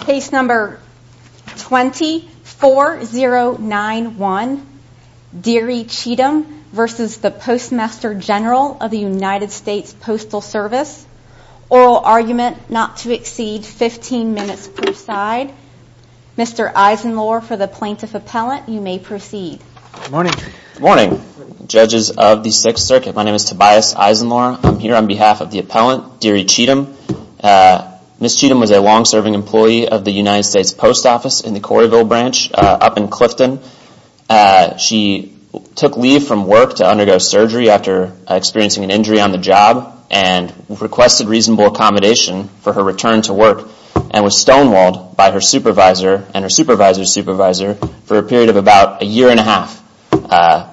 Case number 204091 Derie Cheatham v. Postmaster General USPS Oral argument not to exceed 15 minutes per side Mr. Eisenlor for the plaintiff appellant you may proceed Good morning judges of the 6th circuit my name is Tobias Eisenlor I'm here on behalf of the appellant Derie Cheatham Ms. Cheatham was a long serving employee of the United States Post Office in the Corrieville branch up in Clifton. She took leave from work to undergo surgery after experiencing an injury on the job and requested reasonable accommodation for her return to work and was stonewalled by her supervisor and her supervisor's supervisor for a period of about a year and a half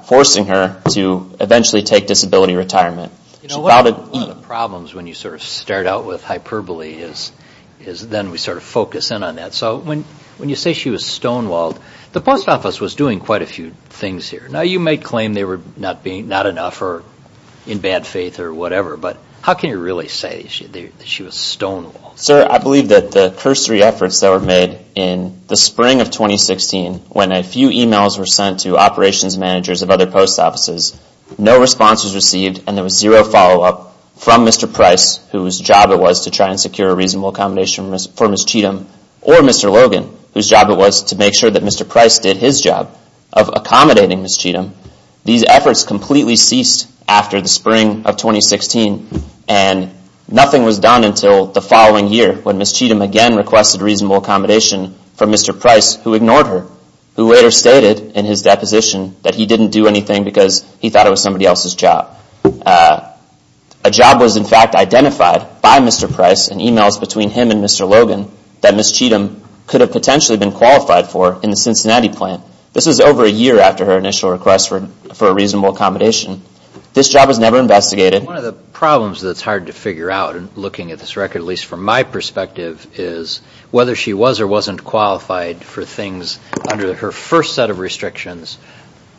forcing her to eventually take disability retirement. One of the problems when you sort of start out with hyperbole is then we sort of focus in on that. So when you say she was stonewalled the post office was doing quite a few things here. Now you may claim they were not enough or in bad faith or whatever but how can you really say that she was stonewalled? Sir I believe that the cursory efforts that were made in the spring of 2016 when a few emails were sent to operations managers of other post offices, no response was received and there was zero follow up from Mr. Price whose job it was to try and secure a reasonable accommodation for Ms. Cheatham or Mr. Logan whose job it was to make sure that Mr. Price did his job of accommodating Ms. Cheatham. These efforts completely ceased after the spring of 2016 and nothing was done until the following year when Ms. Cheatham again requested reasonable accommodation for Mr. Price who ignored her, who later stated in his deposition that he didn't do anything because he thought it was somebody else's job. A job was in fact identified by Mr. Price in emails between him and Mr. Logan that Ms. Cheatham could have potentially been qualified for in the Cincinnati plant. This was over a year after her initial request for a reasonable accommodation. This job was never investigated. One of the problems that's hard to figure out looking at this record at least from my perspective is whether she was or wasn't qualified for her first set of restrictions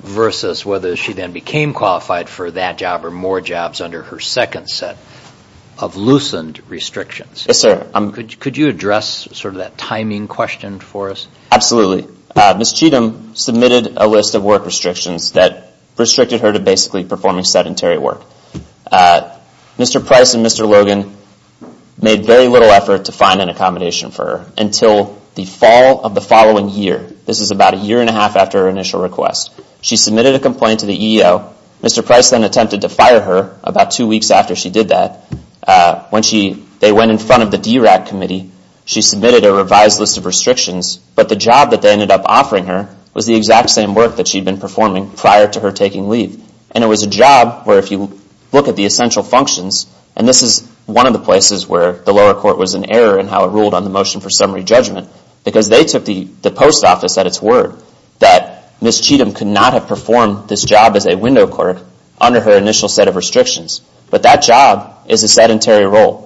versus whether she then became qualified for that job or more jobs under her second set of loosened restrictions. Could you address sort of that timing question for us? Absolutely. Ms. Cheatham submitted a list of work restrictions that restricted her to basically performing sedentary work. Mr. Price and Mr. Logan made very little effort to find an accommodation for her until the fall of the following year. This is about a year and a half after her initial request. She submitted a complaint to the EEO. Mr. Price then attempted to fire her about two weeks after she did that. They went in front of the DRAC committee. She submitted a revised list of restrictions, but the job that they ended up offering her was the exact same work that she had been performing prior to her taking leave. And it was a job where if you look at the essential functions and this is one of the places where the lower court was in error in how it ruled on the motion for summary judgment because they took the post office at its word that Ms. Cheatham could not have performed this job as a window clerk under her initial set of restrictions. But that job is a sedentary role.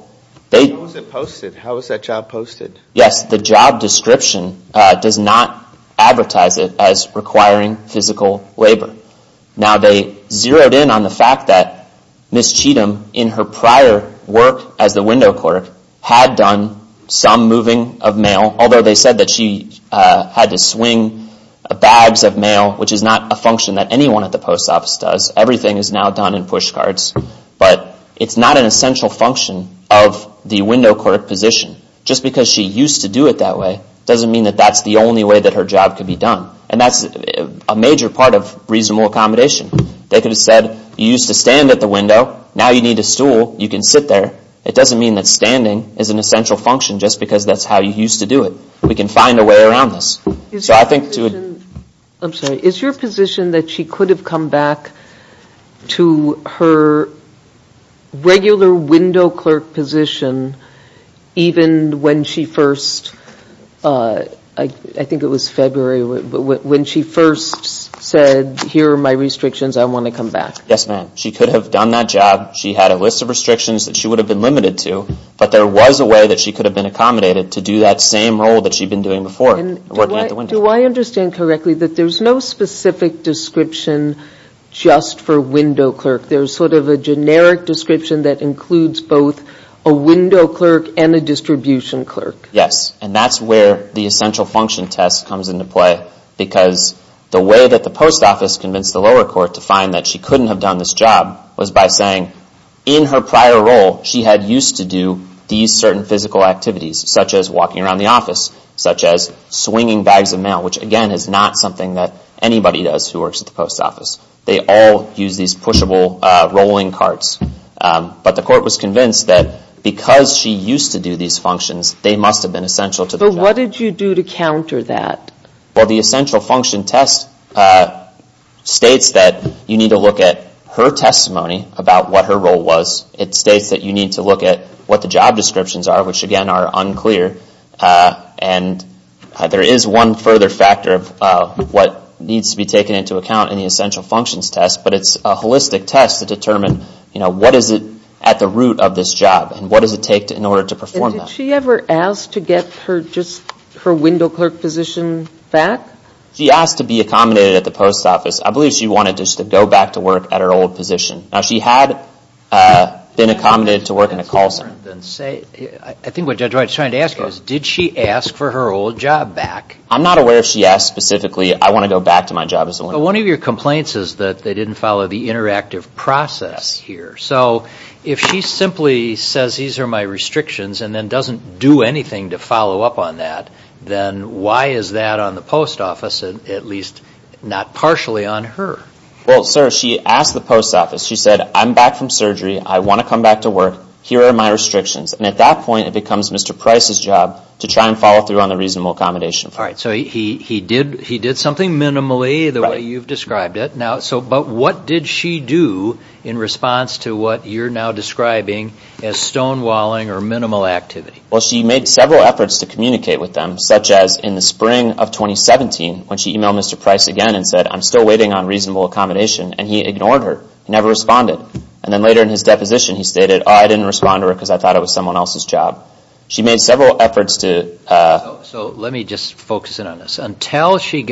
How was it posted? How was that job posted? Yes, the job description does not advertise it as requiring physical labor. Now they zeroed in on the fact that Ms. Cheatham in her prior work as the window clerk had done some moving of mail, although they said that she had to swing bags of mail, which is not a function that anyone at the post office does. Everything is now done in push cards. But it's not an essential function of the window clerk position. Just because she used to do it that way doesn't mean that that's the only way that her job could be done. And that's a major part of reasonable accommodation. They could have said you used to stand at the window. Now you need a stool. You can sit there. It doesn't mean that standing is an essential function just because that's how you used to do it. We can find a way around this. I'm sorry. Is your position that she could have come back to her regular window clerk position even when she first I think it was February, when she first said here are my restrictions. I want to come back. Yes, ma'am. She could have done that job. She had a list of restrictions that she would have been limited to. But there was a way that she could have been accommodated to do that same role that she'd been doing before, working at the window. Do I understand correctly that there's no specific description just for window clerk? There's sort of a generic description that includes both a window clerk and a distribution clerk? Yes. And that's where the essential function test comes into play. Because the way that the post office convinced the lower court to find that she couldn't have done this job was by saying in her prior role, she had used to do these certain physical activities, such as walking around the office, such as swinging bags of mail, which again is not something that anybody does who works at the post office. They all use these pushable rolling carts. But the court was convinced that because she used to do these functions, they must have been essential to the job. But what did you do to counter that? Well, the essential function test states that you need to look at her testimony about what her role was. It states that you need to look at what the job descriptions are, which again are unclear. And there is one further factor of what needs to be taken into account in the essential functions test, but it's a holistic test to determine what is it at the root of this job and what does it take in order to perform that. Did she ever ask to get her window clerk position back? She asked to be accommodated at the post office. I believe she wanted to go back to work at her old position. Now, she had been accommodated to work in a call center. I think what Judge Wright is trying to ask is did she ask for her old job back? I'm not aware if she asked specifically I want to go back to my job as a window clerk. But one of your complaints is that they didn't follow the interactive process here. So if she simply says these are my restrictions and then doesn't do anything to follow up on that, then why is that on the post office, at least not partially on her? Well, sir, she asked the post office. She said I'm back from surgery. I want to come back to work. Here are my restrictions. And at that point it becomes Mr. Price's job to try and follow through on the reasonable accommodation. All right. So he did something minimally the way you've described it. But what did she do in response to what you're now describing as stonewalling or minimal activity? Well, she made several efforts to communicate with them, such as in the spring of 2017 when she emailed Mr. Price again and said I'm still waiting on reasonable accommodation. And he ignored her. He never responded. And then later in his deposition he stated, oh, I didn't respond to her because I thought it was someone else's job. She made several efforts to... So let me just focus in on this. Until she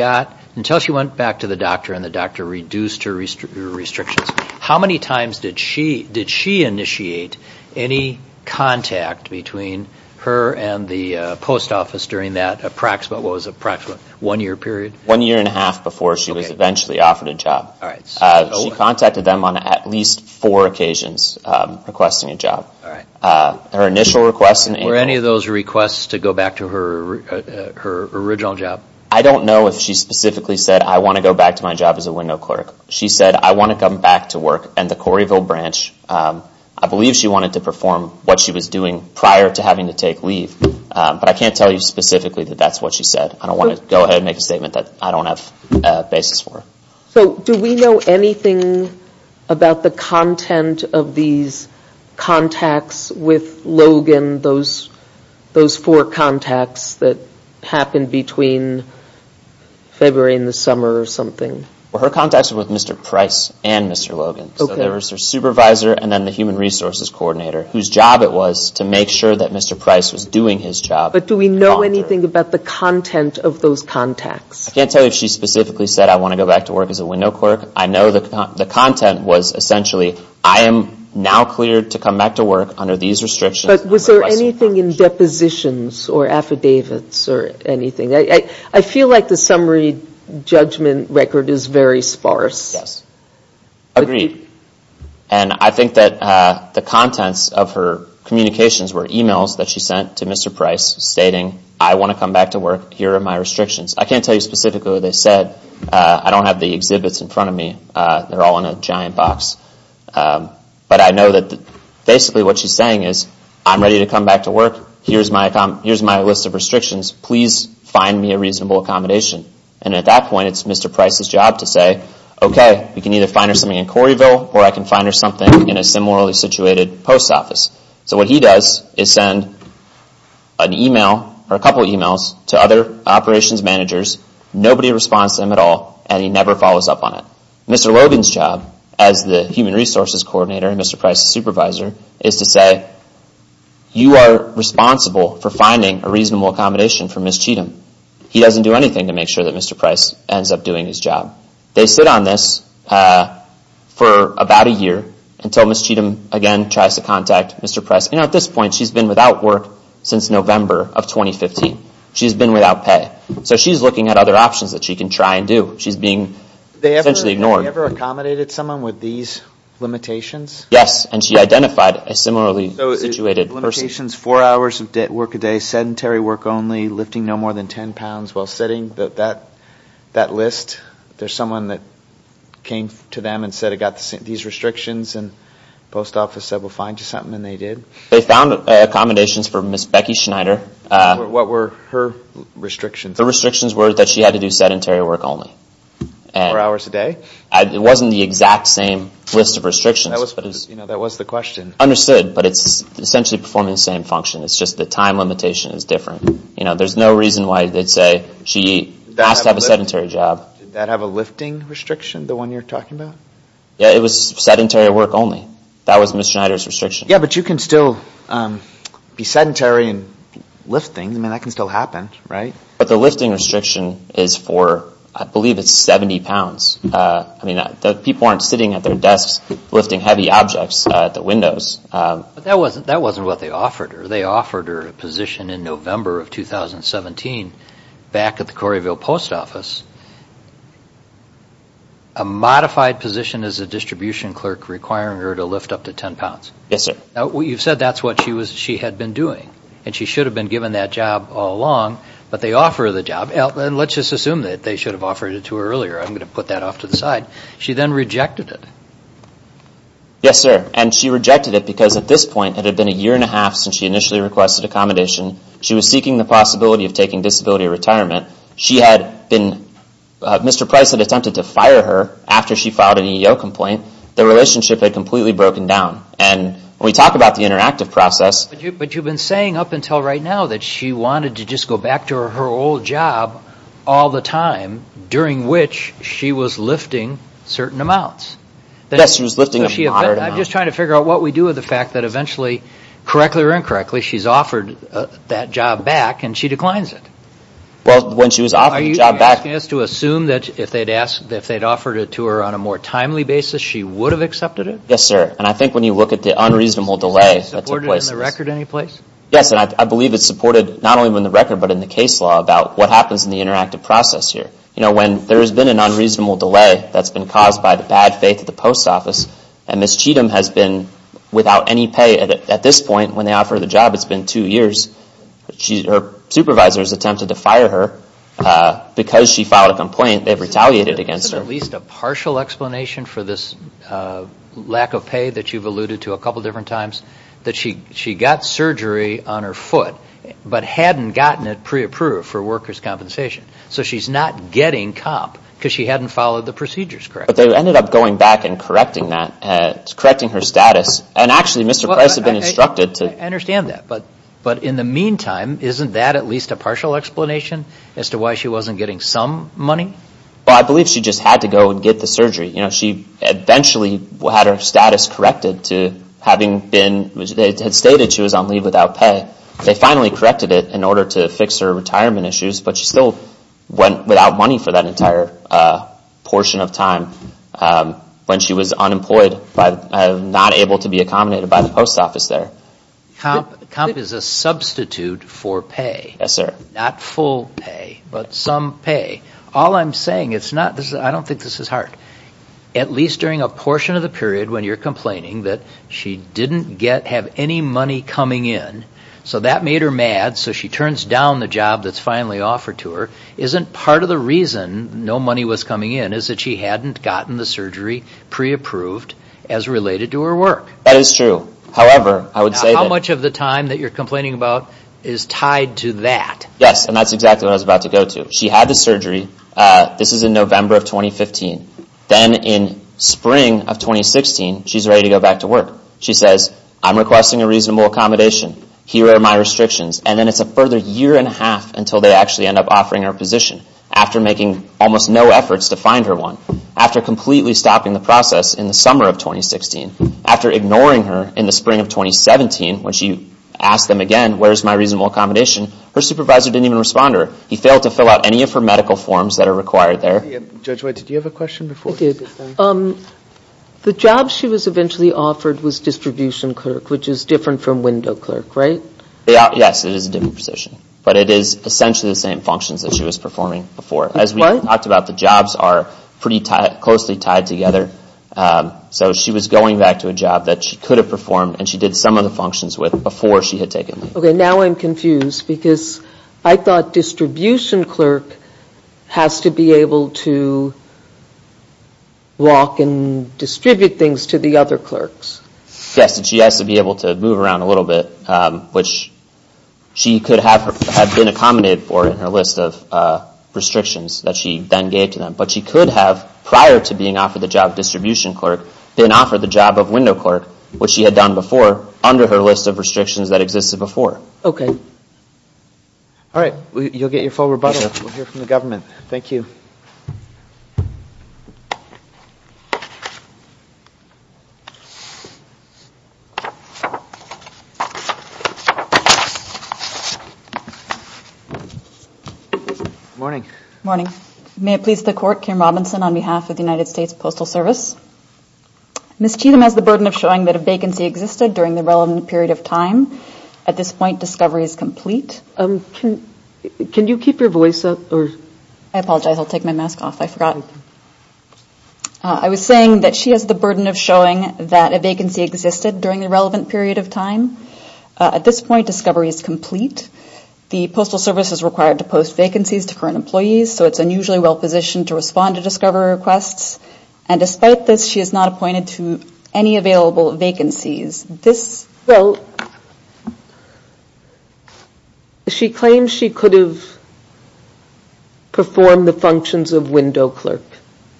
went back to the doctor and the doctor reduced her restrictions, how many times did she initiate any contact between her and the post office during that approximate, what was approximate, one year period? One year and a half before she was eventually offered a job. All right. She contacted them on at least four occasions requesting a job. All right. Her initial request and email... Were any of those requests to go back to her original job? I don't know if she specifically said I want to go back to my job as a window clerk. She said I want to come back to work. And the Coreyville branch, I believe she wanted to perform what she was doing prior to having to take leave. But I can't tell you specifically that that's what she said. I don't want to go ahead and make a statement that I don't have a basis for. So do we know anything about the content of these contacts with Logan, those four contacts that happened between February and the summer or something? Well, her contacts were with Mr. Price and Mr. Logan. So there was her supervisor and then the human resources coordinator, whose job it was to make sure that Mr. Price was doing his job. But do we know anything about the content of those contacts? I can't tell you if she specifically said I want to go back to work as a window clerk. I know the content was essentially I am now cleared to come back to work under these restrictions. But was there anything in depositions or affidavits or anything? I feel like the summary judgment record is very sparse. Agreed. And I think that the contents of her communications were emails that she sent to Mr. Price stating I want to come back to work. Here are my restrictions. I can't tell you specifically what they said. I don't have the exhibits in front of me. They're all in a giant box. But I know that basically what she's saying is I'm ready to come back to work. Here's my list of restrictions. Please find me a reasonable accommodation. And at that point it's Mr. Price's job to say okay, we can either find her something in Corrieville or I can find her something in a similarly situated post office. So what he does is send an email or a couple of emails to other operations managers. Nobody responds to him at all and he never follows up on it. Mr. Logan's job as the human resources coordinator and Mr. Price's supervisor is to say you are responsible for finding a reasonable accommodation for Ms. Cheatham. He doesn't do anything to make sure that Mr. Price ends up doing his job. They sit on this for about a year until Ms. Cheatham again tries to contact Mr. Price. At this point she's been without work since November of 2015. She's been without pay. So she's looking at other options that she can try and do. She's being essentially ignored. Have you ever accommodated someone with these limitations? Yes. And she identified a similarly situated person. Limitations, four hours of work a day, sedentary work only, lifting no more than 10 pounds while sitting. That list, there's someone that came to them and said I've got these restrictions and the post office said we'll find you something and they did. They found accommodations for Ms. Becky Schneider. What were her restrictions? The restrictions were that she had to do sedentary work only. Four hours a day? It wasn't the exact same list of restrictions. That was the question. Understood, but it's essentially performing the same function. It's just the time limitation is different. There's no reason why they'd say she has to have a sedentary job. Did that have a lifting restriction, the one you're talking about? Yeah, it was sedentary work only. That was Ms. Schneider's restriction. Yeah, but you can still be sedentary and lift things. That can still happen, right? But the lifting restriction is for, I believe it's 70 pounds. People aren't sitting at their desks lifting heavy objects at the windows. That wasn't what they offered her. They offered her a position in November of 2017 back at the Corrieville Post Office. A modified position as a distribution clerk requiring her to lift up to 10 pounds. Yes, sir. You've said that's what she had been doing and she should have been given that job all along but they offer her the job. Let's just assume that they should have offered it to her earlier. I'm going to put that off to the side. She then rejected it. Yes, sir. And she rejected it because at this point it had been a year and a half since she initially requested accommodation. She was seeking the possibility of taking disability retirement. She had been, Mr. Price had attempted to fire her after she filed an EEO complaint. Their relationship had completely broken down. And when we talk about the interactive process But you've been saying up until right now that she wanted to just go back to her old job all the time during which she was lifting certain amounts. Yes, she was lifting a moderate amount. I'm just trying to figure out what we do with the fact that eventually, correctly or incorrectly, she's offered that job back and she declines it. Well, when she was offered the job Are you asking us to assume that if they'd offered it to her on a more timely basis, she would have accepted it? Yes, sir. And I think when you look at the unreasonable delay that took place. Is it supported in the record in any place? Yes, and I believe it's supported not only in the record but in the case law about what happens in the interactive process here. You know, when there's been an unreasonable delay that's been caused by the bad faith of the post office, and Ms. Cheatham has been without any pay at this point when they offer her the job. It's been two years. Supervisors attempted to fire her because she filed a complaint. They've retaliated against her. Is there at least a partial explanation for this lack of pay that you've alluded to a couple different times? That she got surgery on her foot but hadn't gotten it pre-approved for getting comp because she hadn't followed the procedures correctly. But they ended up going back and correcting that, correcting her status. And actually, Mr. Price had been instructed to I understand that, but in the meantime, isn't that at least a partial explanation as to why she wasn't getting some money? Well, I believe she just had to go and get the surgery. You know, she eventually had her status corrected to having been, they had stated she was on leave without pay. They finally corrected it in order to fix her retirement issues but she still went without money for that entire portion of time when she was unemployed, not able to be accommodated by the post office there. Comp is a substitute for pay. Yes, sir. Not full pay, but some pay. All I'm saying, it's not, I don't think this is hard. At least during a portion of the period when you're complaining that she didn't have any money coming in, so that made her mad, so she turns down the job that's finally offered to her. Isn't part of the reason no money was coming in is that she hadn't gotten the surgery pre-approved as related to her work? That is true. However, I would say How much of the time that you're complaining about is tied to that? Yes, and that's exactly what I was about to go to. She had the surgery. This is in November of 2015. Then in spring of 2016, she's ready to go back to work. She says, I'm requesting a reasonable accommodation. Here are my restrictions. And then it's a further year and a half until they actually end up offering her a position after making almost no efforts to find her one. After completely stopping the process in the summer of 2016, after ignoring her in the spring of 2017 when she asked them again, where's my reasonable accommodation? Her supervisor didn't even respond to her. He failed to fill out any of her medical forms that are required there. Judge White, did you have a question before? The job she was eventually offered was distribution clerk, which is different from window clerk, right? Yes, it is a different position. But it is essentially the same functions that she was performing before. As we talked about, the jobs are pretty closely tied together. So she was going back to a job that she could have performed and she did some of the functions with before she had taken them. Okay, now I'm confused because I thought distribution clerk has to be able to walk and distribute things to the other clerks. Yes, and she has to be able to move around a little bit, which she could have been accommodated for in her list of restrictions that she then gave to them. But she could have, prior to being offered the job of distribution clerk, been offered the job of window clerk, which she had done before under her list of restrictions that existed before. Okay. Alright, you'll get your full rebuttal. We'll hear from the government. Thank you. Good morning. Good morning. Good morning. May it please the Court, Kim Robinson on behalf of the United States Postal Service. Ms. Cheetham has the burden of showing that a vacancy existed during the relevant period of time. At this point, discovery is complete. Can you keep your I apologize. I'll take my mask off. I forgot. I was saying that she has the burden of showing that a vacancy existed during the relevant period of time. At this point, discovery is complete. The Postal Service is required to post vacancies to current employees, so it's unusually well positioned to respond to discovery requests. And despite this, she is not appointed to any available vacancies. Well, she claims she could have performed the functions of window clerk.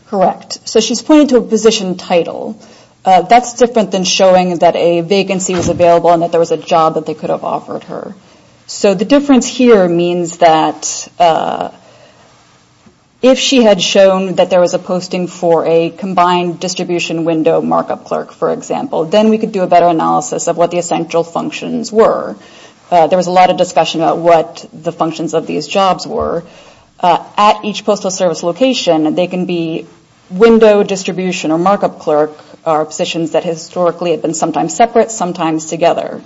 Correct. So she's pointing to a position title. That's different than showing that a vacancy was available and that there was a job that they could have offered her. So the difference here means that if she had shown that there was a posting for a combined distribution window markup clerk, for example, then we could do a better analysis of what the essential functions were. There was a lot of discussion about what the functions of these jobs were. At each Postal Service location, they can be window distribution or markup clerk are positions that historically have been sometimes separate, sometimes together.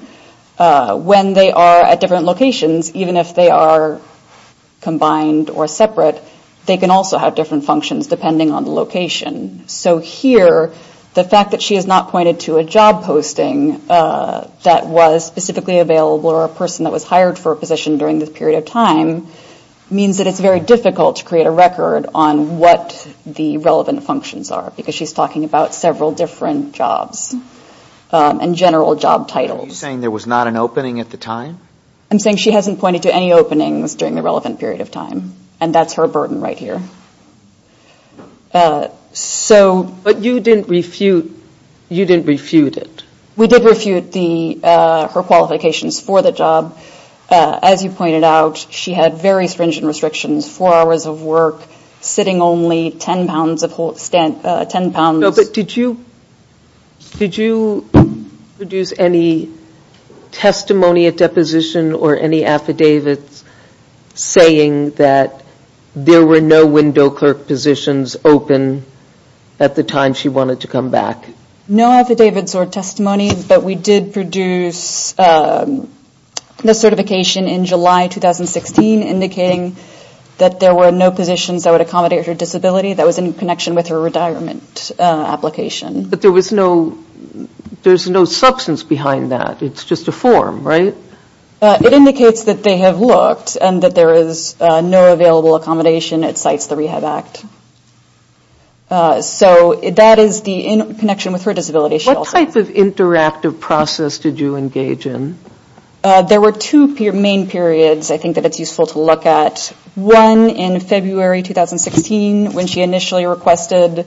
When they are at different locations, even if they are combined or separate, they can also have different functions depending on the location. So here, the fact that she is not pointed to a job posting that was specifically available or a person that was hired for a position during this period of time means that it's very difficult to create a record on what the relevant functions are, because she's talking about several different jobs and general job titles. Are you saying there was not an opening at the time? I'm saying she hasn't pointed to any openings during the relevant period of time. And that's her burden right here. But you didn't refute it? We did refute her qualifications for the job. As you pointed out, she had very stringent restrictions, four hours of work, sitting only 10 pounds. But did you produce any testimony at deposition or any affidavits saying that there were no windows clerk positions open at the time she wanted to come back? No affidavits or testimony, but we did produce the certification in July 2016 indicating that there were no positions that would accommodate her disability. That was in connection with her retirement application. But there's no substance behind that. It's just a form, right? It indicates that they have looked and that there is no available accommodation. It cites the Rehab Act. So that is in connection with her disability. What type of interactive process did you engage in? There were two main periods I think that it's useful to look at. One in February 2016 when she initially requested,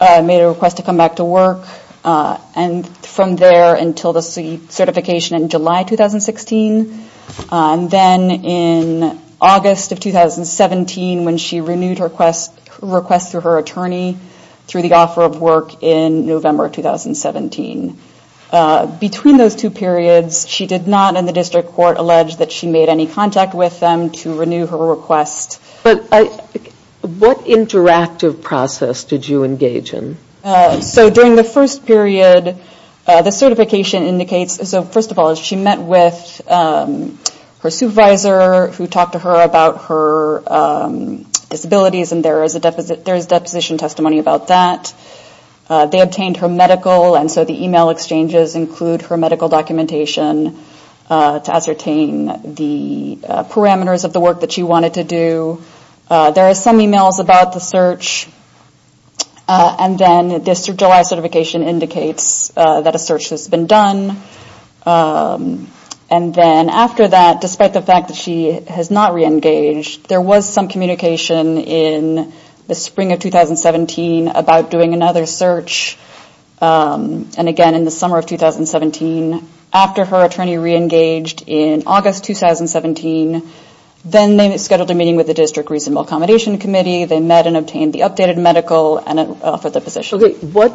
made a request to come back to work. And from there until the certification in July 2016. And then in August of 2017 when she renewed her request through her attorney through the offer of work in November 2017. Between those two periods, she did not in the district court allege that she made any contact with them to renew her request. What interactive process did you engage in? So during the first period, the certification indicates so first of all, she met with her supervisor who talked to her about her disabilities and there is deposition testimony about that. They obtained her medical and so the email exchanges include her medical documentation to ascertain the parameters of the work that she wanted to do. There are some emails about the search. And then this July certification indicates that a search has been done. And then after that, despite the fact that she has not reengaged, there was some communication in the spring of 2017 about doing another search. And again in the summer of 2017, after her attorney reengaged in August 2017, then they scheduled a meeting with the district reasonable accommodation committee. They met and obtained the updated medical and offered the position. What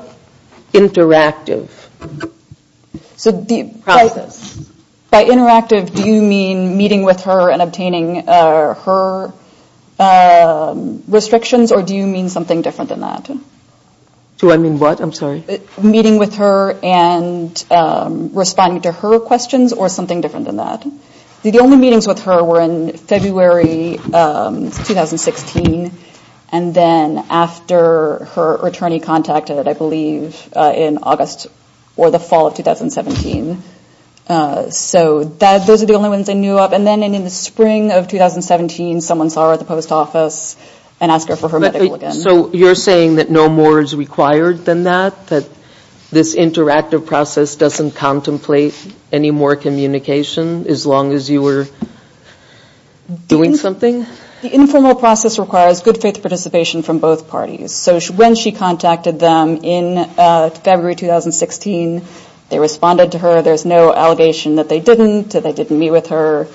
interactive process? By interactive, do you mean meeting with her and obtaining her restrictions or do you mean something different than that? Meeting with her and responding to her questions or something different than that? The only meetings with her were in February 2016 and then after her attorney contacted I believe in August or the fall of 2017. So those are the only ones I knew of. And then in the spring of 2017, someone saw her at the post office and asked her for her medical again. So you're saying that no more is required than that? That this interactive process doesn't contemplate any more communication as long as you were doing something? The informal process requires good faith participation from both parties. So when she contacted them in February 2016, they responded to her. There's no allegation that they didn't, that they didn't meet with her.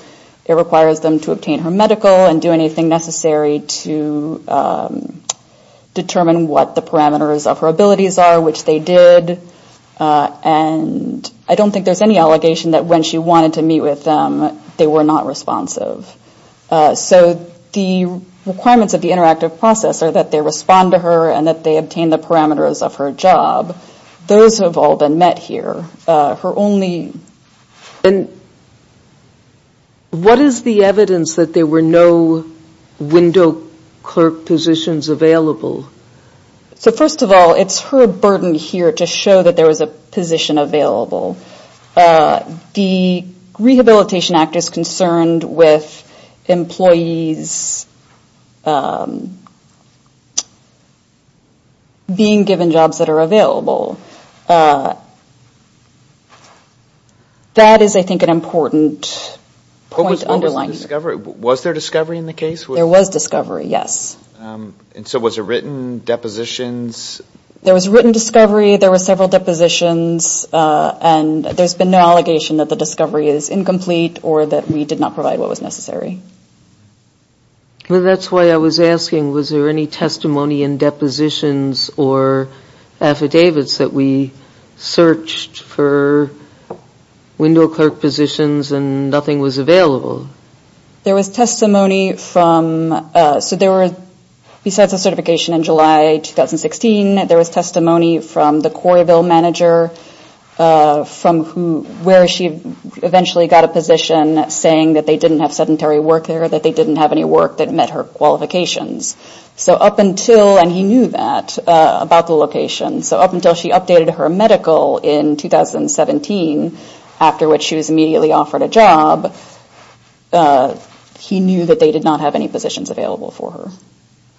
It requires them to obtain her medical and do anything necessary to determine what the parameters of her abilities are, which they did. And I don't think there's any allegation that when she wanted to meet with them, they were not responsive. So the requirements of the interactive process are that they respond to her and that they obtain the parameters of her job. Those have all been met here. Her only... What is the evidence that there were no window clerk positions available? So first of all, it's her burden here to show that there was a position available. The Rehabilitation Act is concerned with employees being given jobs that are That is, I think, an important point to underline here. Was there discovery in the case? There was discovery, yes. And so was there written depositions? There was written discovery, there were several or that we did not provide what was necessary. Well, that's why I was asking, was there any testimony in depositions or affidavits that we searched for window clerk positions and nothing was available? There was testimony from, so there were besides the certification in July 2016, there was testimony from the Coralville manager from who, where she eventually got a position saying that they didn't have sedentary work there, that they didn't have any work that met her qualifications. So up until and he knew that about the location, so up until she updated her medical in 2017, after which she was immediately offered a job, he knew that they did not have any positions available for her.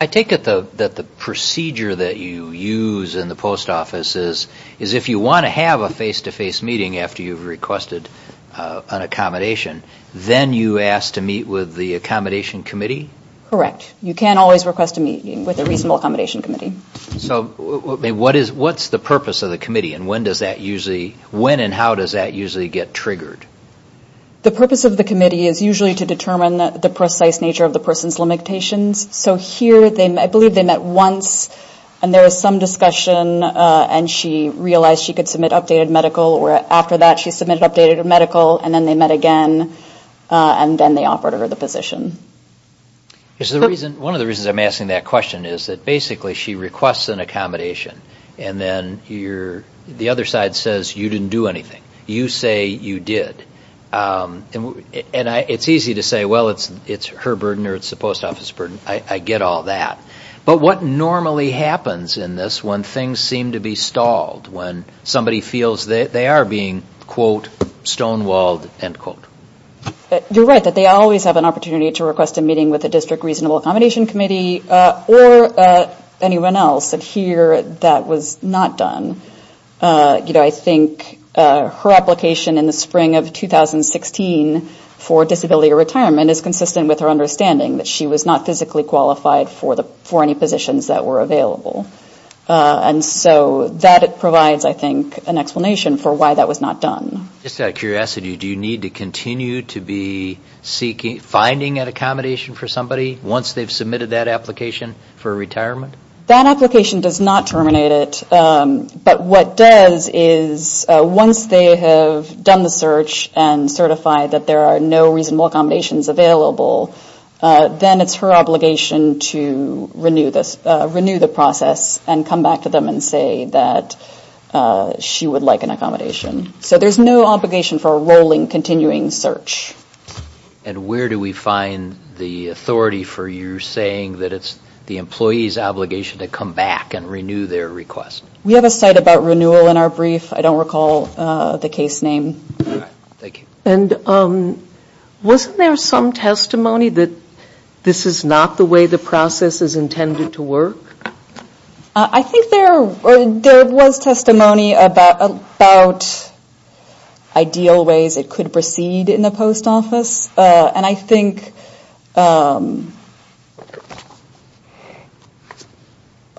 I take it that the procedure that you use in the post office is if you want to have a face-to-face meeting after you've requested an accommodation, then you ask to meet with the accommodation committee? Correct. You can always request a meeting with a reasonable accommodation committee. So what's the purpose of the committee and when does that usually, when and how does that usually get triggered? The purpose of the committee is usually to determine the precise nature of the person's limitations. So here I believe they met once and there was some discussion and she realized she could submit updated medical or after that she submitted updated medical and then they met again and then they offered her the position. One of the reasons I'm asking that question is that basically she requests an accommodation and then the other side says you didn't do anything. You say you did. And it's easy to say, well, it's her burden or it's the post office burden. I get all that. But what normally happens in this when things seem to be stalled, when somebody feels they are being quote stonewalled, end quote? You're right that they always have an opportunity to request a meeting with the district reasonable accommodation committee or anyone else and here that was not done. I think her application in the spring of 2016 for disability or retirement is consistent with her understanding that she was not physically qualified for any positions that were available. And so that provides I think an explanation for why that was not done. Just out of curiosity, do you need to continue to be finding an accommodation for somebody once they've submitted that application for retirement? That application does not terminate it but what does is once they have done the search and certified that there are no reasonable accommodations available then it's her obligation to renew this process and come back to them and say that she would like an accommodation. So there's no obligation for a rolling continuing search. And where do we find the authority for you saying that it's the employee's obligation to come back and renew their request? We have a site about renewal in our brief. I don't recall the case name. Thank you. And wasn't there some testimony that this is not the way the process is intended to work? I think there was testimony about ideal ways it could proceed in the post office and I think I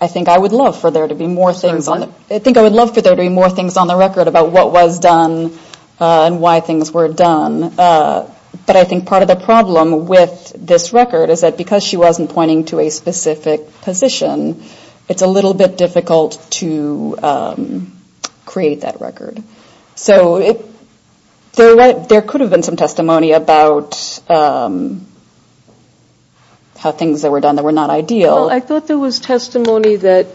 think I would love for there to be more things on the record about what was done and why things were done. But I think part of the problem with this record is that because she wasn't pointing to a specific position, it's a little bit difficult to create that record. So there could have been some testimony about how things that were done that were not ideal. I thought there was testimony that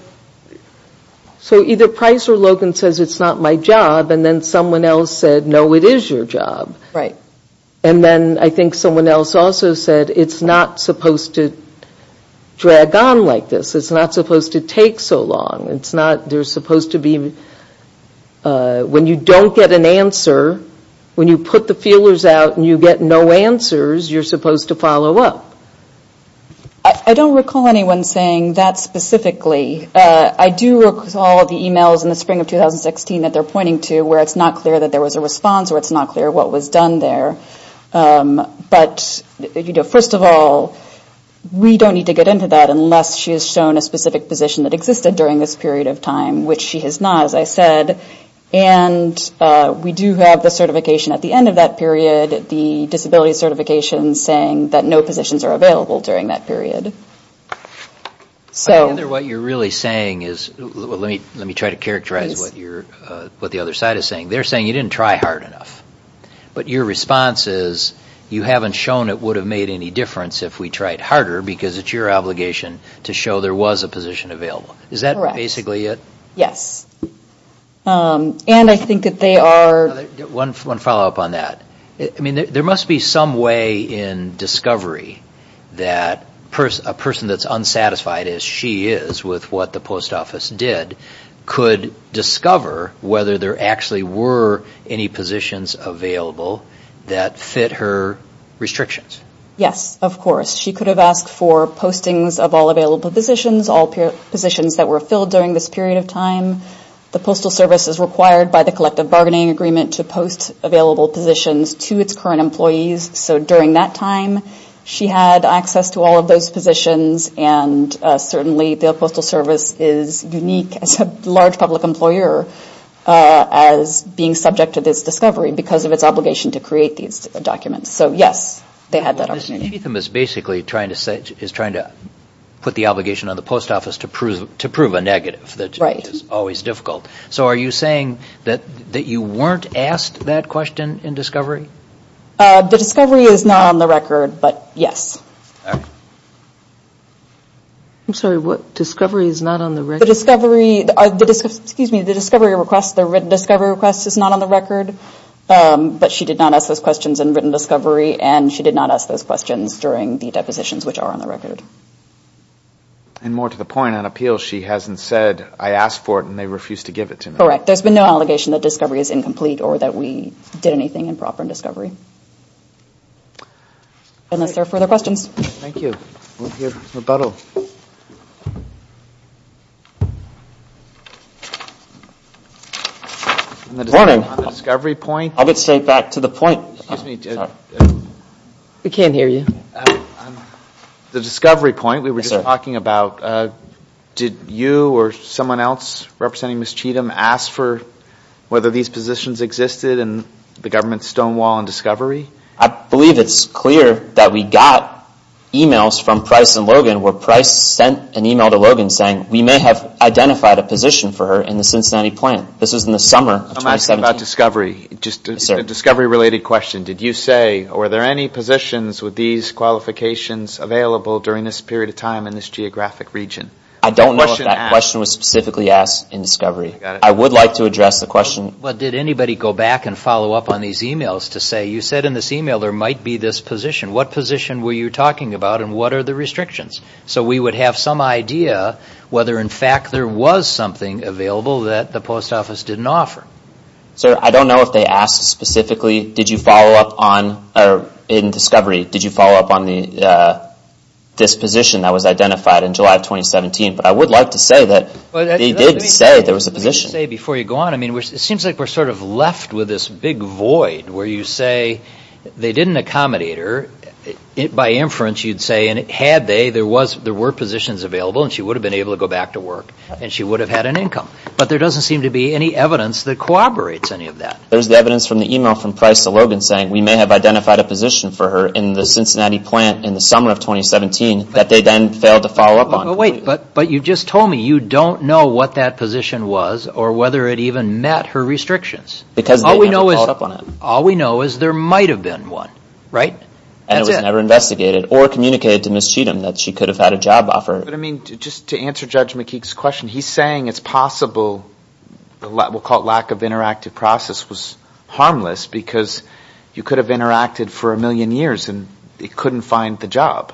so either Price or Logan says it's not my job and then someone else said no, it is your job. And then I think someone else also said it's not supposed to drag on like this. It's not supposed to take so long. There's supposed to be, when you don't get an answer when you put the feelers out and you get no answers you're supposed to follow up. I don't recall anyone saying that specifically. I do recall the emails in the spring of 2016 that they're pointing to where it's not clear that there was a response or it's not clear what was done there. But first of all, we don't need to get into that unless she has shown a specific position that existed during this period of time, which she has not as I said. And we do have the certification at the end of that period the disability certification saying that no positions are available during that period. I wonder what you're really saying is let me try to characterize what the other side is saying. They're saying you didn't try hard enough. But your response is you haven't shown it would have made any difference if we tried harder because it's your obligation to show there was a position available. Is that basically it? Yes. And I think that they are One follow up on that. There must be some way in discovery that a person that's unsatisfied as she is with what the post office did could discover whether there actually were any positions available that fit her restrictions. Yes, of course. She could have asked for postings of all available positions, all positions that were filled during this period of time. The Postal Service is required by the collective bargaining agreement to post available positions to its current employees so during that time she had access to all of those positions and certainly the Postal Service is unique as a large public employer as being subject to this discovery because of its obligation to create these documents. So, yes, they had that opportunity. Chatham is basically trying to put the obligation on the post office to prove a negative, which is always difficult. So are you saying that you weren't asked that question in discovery? The discovery is not on the record, but yes. I'm sorry, what? Discovery is not on the record? The discovery request the written discovery request is not on the record, but she did not ask those questions in written discovery and she did not ask those questions during the depositions which are on the record. And more to the point, on appeal she hasn't said I asked for it and they refused to give it to me. Correct. There's been no allegation that discovery is incomplete or that we did anything improper in discovery. Unless there are further questions. Thank you. We'll hear rebuttal. Morning. On the discovery point. I'll get straight back to the point. We can't hear you. The discovery point we were just talking about did you or someone else representing Ms. Chatham ask for whether these positions existed in the government's stonewall in discovery? I believe it's clear that we got emails from Price and Logan where Price sent an email to Logan saying we may have identified a position for her in the Cincinnati plant. This was in the summer of 2017. I'm asking about discovery. Just a discovery related question. Did you say were there any positions with these qualifications available during this period of time in this geographic region? I don't know if that question was specifically asked in discovery. I would like to address the question. Did anybody go back and follow up on these emails to say you said in this email there might be this position. What position were you talking about and what are the restrictions? So we would have some idea whether in fact there was something available that the post office didn't offer. Sir, I don't know if they asked specifically did you follow up on or in discovery did you follow up on this position that was identified in July 2017. But I would like to say that they did say there was a position. Before you go on, it seems like we're sort of left with this big void where you say they didn't accommodate her. By inference you'd say had they, there were positions available and she would have been able to go back to work and she would have had an income. But there doesn't seem to be any evidence that corroborates any of that. There's the evidence from the email from Price to Logan saying we may have identified a position for her in the Cincinnati plant in the summer of 2017 that they then failed to follow up on. But you just told me you don't know what that position was or whether it even met her restrictions. All we know is there might have been one. And it was never investigated or communicated to Ms. Cheatham that she could have had a job offer. But I mean, just to answer Judge McKeague's question, he's saying it's possible what we'll call lack of interactive process was harmless because you could have interacted for a million years and it couldn't find the job.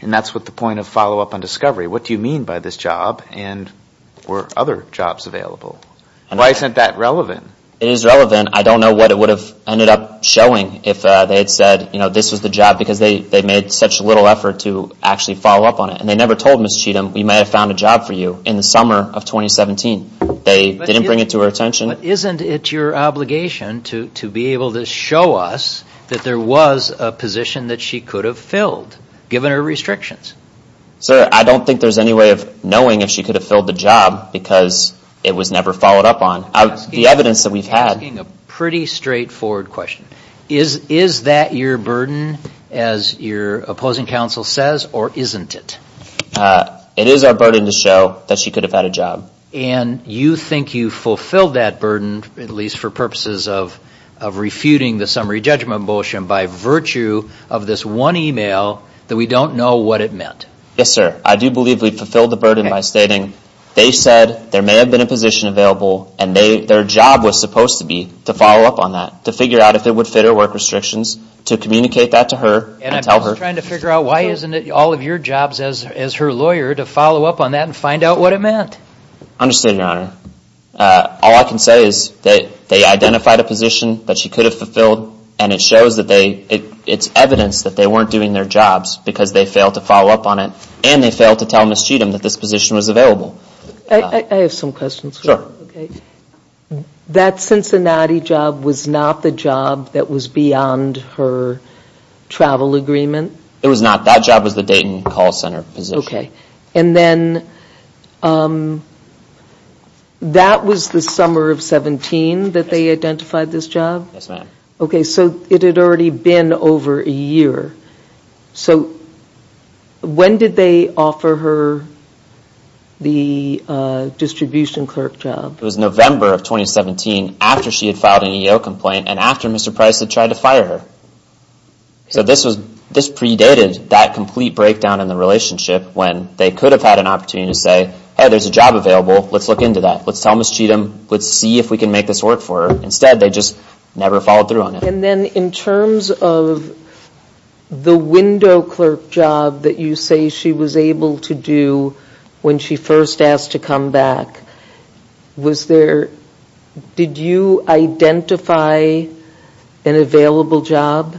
And that's what the point of follow-up on discovery. What do you mean by this job and were other jobs available? Why isn't that relevant? It is relevant. I don't know what it would have ended up showing if they had said this was the job because they made such little effort to actually follow up on it. And they never told Ms. Cheatham we may have found a job for you in the summer of 2017. They didn't bring it to her attention. But isn't it your obligation to be able to show us that there was a position that she could have filled, given her restrictions? Sir, I don't think there's any way of knowing if she could have filled the job because it was never followed up on. The evidence that we've had... I'm asking a pretty straightforward question. Is that your burden as your opposing counsel says, or isn't it? It is our burden to show that she could have had a job. And you think you fulfilled that burden, at least for purposes of refuting the summary judgment motion by virtue of this one email that we don't know what it meant. Yes, sir. I do believe we fulfilled the burden by stating they said there may have been a position available and their job was supposed to be to follow up on that. To figure out if it would fit her work restrictions. To communicate that to her and tell her... And I'm just trying to figure out why isn't it all of your jobs as her lawyer to follow up on that and find out what it meant? I understand, Your Honor. All I can say is that they identified a position that she could have fulfilled and it shows that it's evidence that they weren't doing their jobs because they failed to follow up on it and they failed to tell Ms. Cheatham that this position was available. I have some questions. Sure. That Cincinnati job was not the job that was beyond her travel agreement? It was not. That job was the Dayton Call Center position. And then that was the summer of 17 that they identified this job? Yes, ma'am. Okay, so it had already been over a year. So when did they offer her the distribution clerk job? It was November of 2017 after she had filed an EEO complaint and after Mr. Price had tried to fire her. So this predated that complete breakdown in the relationship when they could have had an opportunity to say, hey, there's a job available. Let's look into that. Let's tell Ms. Cheatham. Let's see if we can make this work for her. Instead, they just never followed through on it. And then in terms of the window clerk job that you say she was able to do when she first asked to come back, was there, did you identify an available job?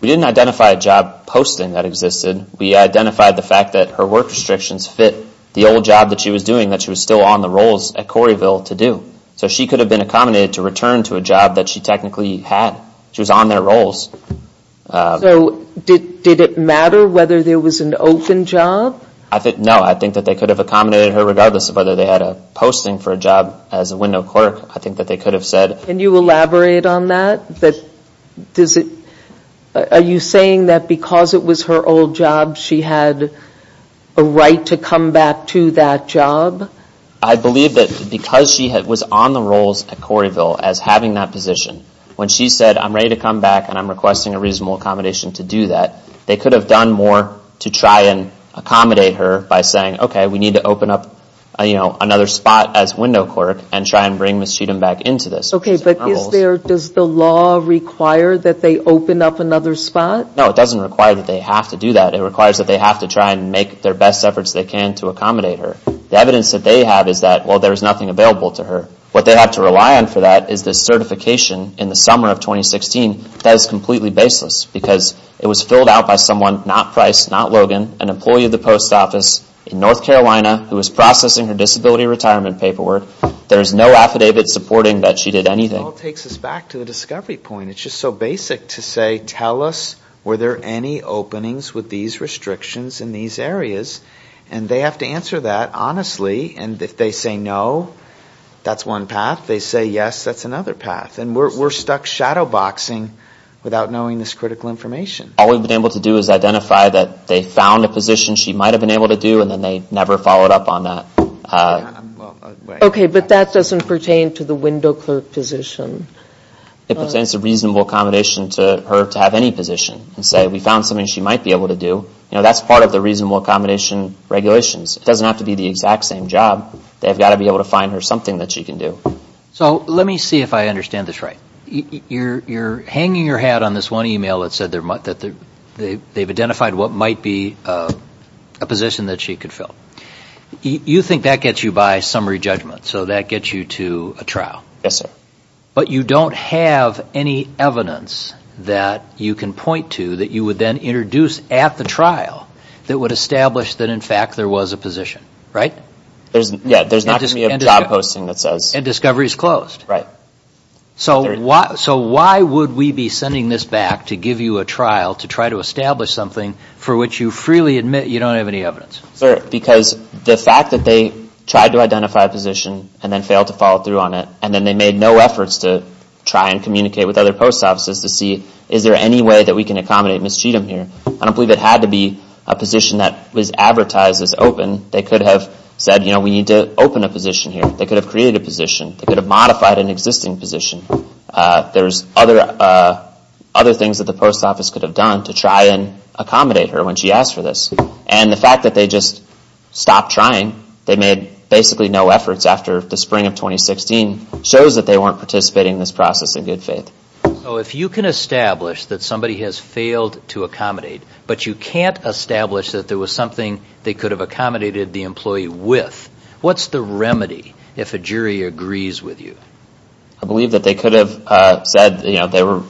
We didn't identify a job posting that existed. We identified the fact that her work restrictions fit the old job that she was doing that she was still on the rolls at Corrieville to do. So she could have been accommodated to return to a job that she technically had. She was on their rolls. So did it matter whether there was an open job? No, I think that they could have accommodated her regardless of whether they had a posting for a job as a window clerk. I think that they could have said. Can you elaborate on that? Are you saying that because it was her old job, she had a right to come back to that job? I believe that because she was on the rolls at Corrieville as having that position, when she said, I'm ready to come back and I'm requesting a reasonable accommodation to do that, they could have done more to try and accommodate her by saying, okay, we need to open up another spot as window clerk and try and bring Ms. Cheatham back into this. Okay, but is there, does the law require that they open up another spot? No, it doesn't require that they have to do that. It requires that they have to try and make their best efforts they can to accommodate her. The evidence that they have is that, well, there is nothing available to her. What they have to rely on for that is the certification in the summer of 2016 that is completely baseless because it was filled out by someone, not Price, not Logan, an employee of the post office in North Carolina who was processing her disability retirement paperwork. There is no affidavit supporting that she did anything. It all takes us back to the discovery point. It's just so basic to say, can you tell us were there any openings with these restrictions in these areas? And they have to answer that honestly. And if they say no, that's one path. If they say yes, that's another path. And we're stuck shadow boxing without knowing this critical information. All we've been able to do is identify that they found a position she might have been able to do and then they never followed up on that. Okay, but that doesn't pertain to the window clerk position. It pertains to reasonable accommodation to her to have any position and say we found something she might be able to do. That's part of the reasonable accommodation regulations. It doesn't have to be the exact same job. They've got to be able to find her something that she can do. So let me see if I understand this right. You're hanging your hat on this one email that said they've identified what might be a position that she could fill. You think that gets you by summary judgment. So that gets you to a trial. But you don't have any evidence that you can point to that you would then introduce at the trial that would establish that in fact there was a position, right? Yeah, there's not going to be a job posting that says... And discovery is closed. So why would we be sending this back to give you a trial to try to establish something for which you freely admit you don't have any evidence? Because the fact that they tried to identify a position and then failed to follow through on it and then they made no efforts to try and communicate with other post offices to see is there any way that we can accommodate Ms. Cheatham here. I don't believe it had to be a position that was advertised as open. They could have said we need to open a position here. They could have created a position. They could have modified an existing position. There's other things that the post office could have done to try and accommodate her when she asked for this. And the fact that they just stopped trying, they made basically no efforts after the spring of 2016 shows that they weren't participating in this process in good faith. So if you can establish that somebody has failed to accommodate, but you can't establish that there was something they could have accommodated the employee with, what's the remedy if a jury agrees with you? I believe that they could have said they were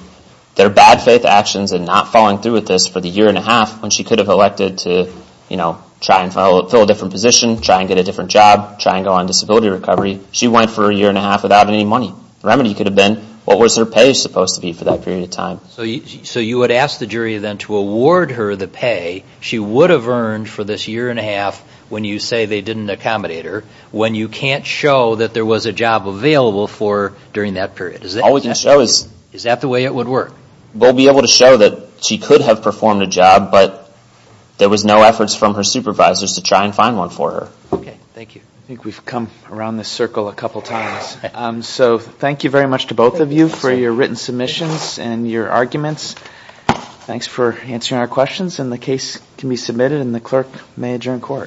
bad faith actions in not following through with this for the year and a half when she could have elected to try and fill a different position, try and get a different job, try and go on disability recovery. She went for a year and a half without any money. The remedy could have been what was her pay supposed to be for that period of time? So you would ask the jury then to award her the pay she would have earned for this year and a half when you say they didn't accommodate her, when you can't show that there was a job available for her during that period. Is that the way it would work? We'll be able to show that she could have performed a job, but there was no efforts from her supervisors to try and find one for her. Thank you. I think we've come around this circle a couple times. Thank you very much to both of you for your written submissions and your arguments. Thanks for answering our questions. The case can be submitted and the clerk may adjourn court.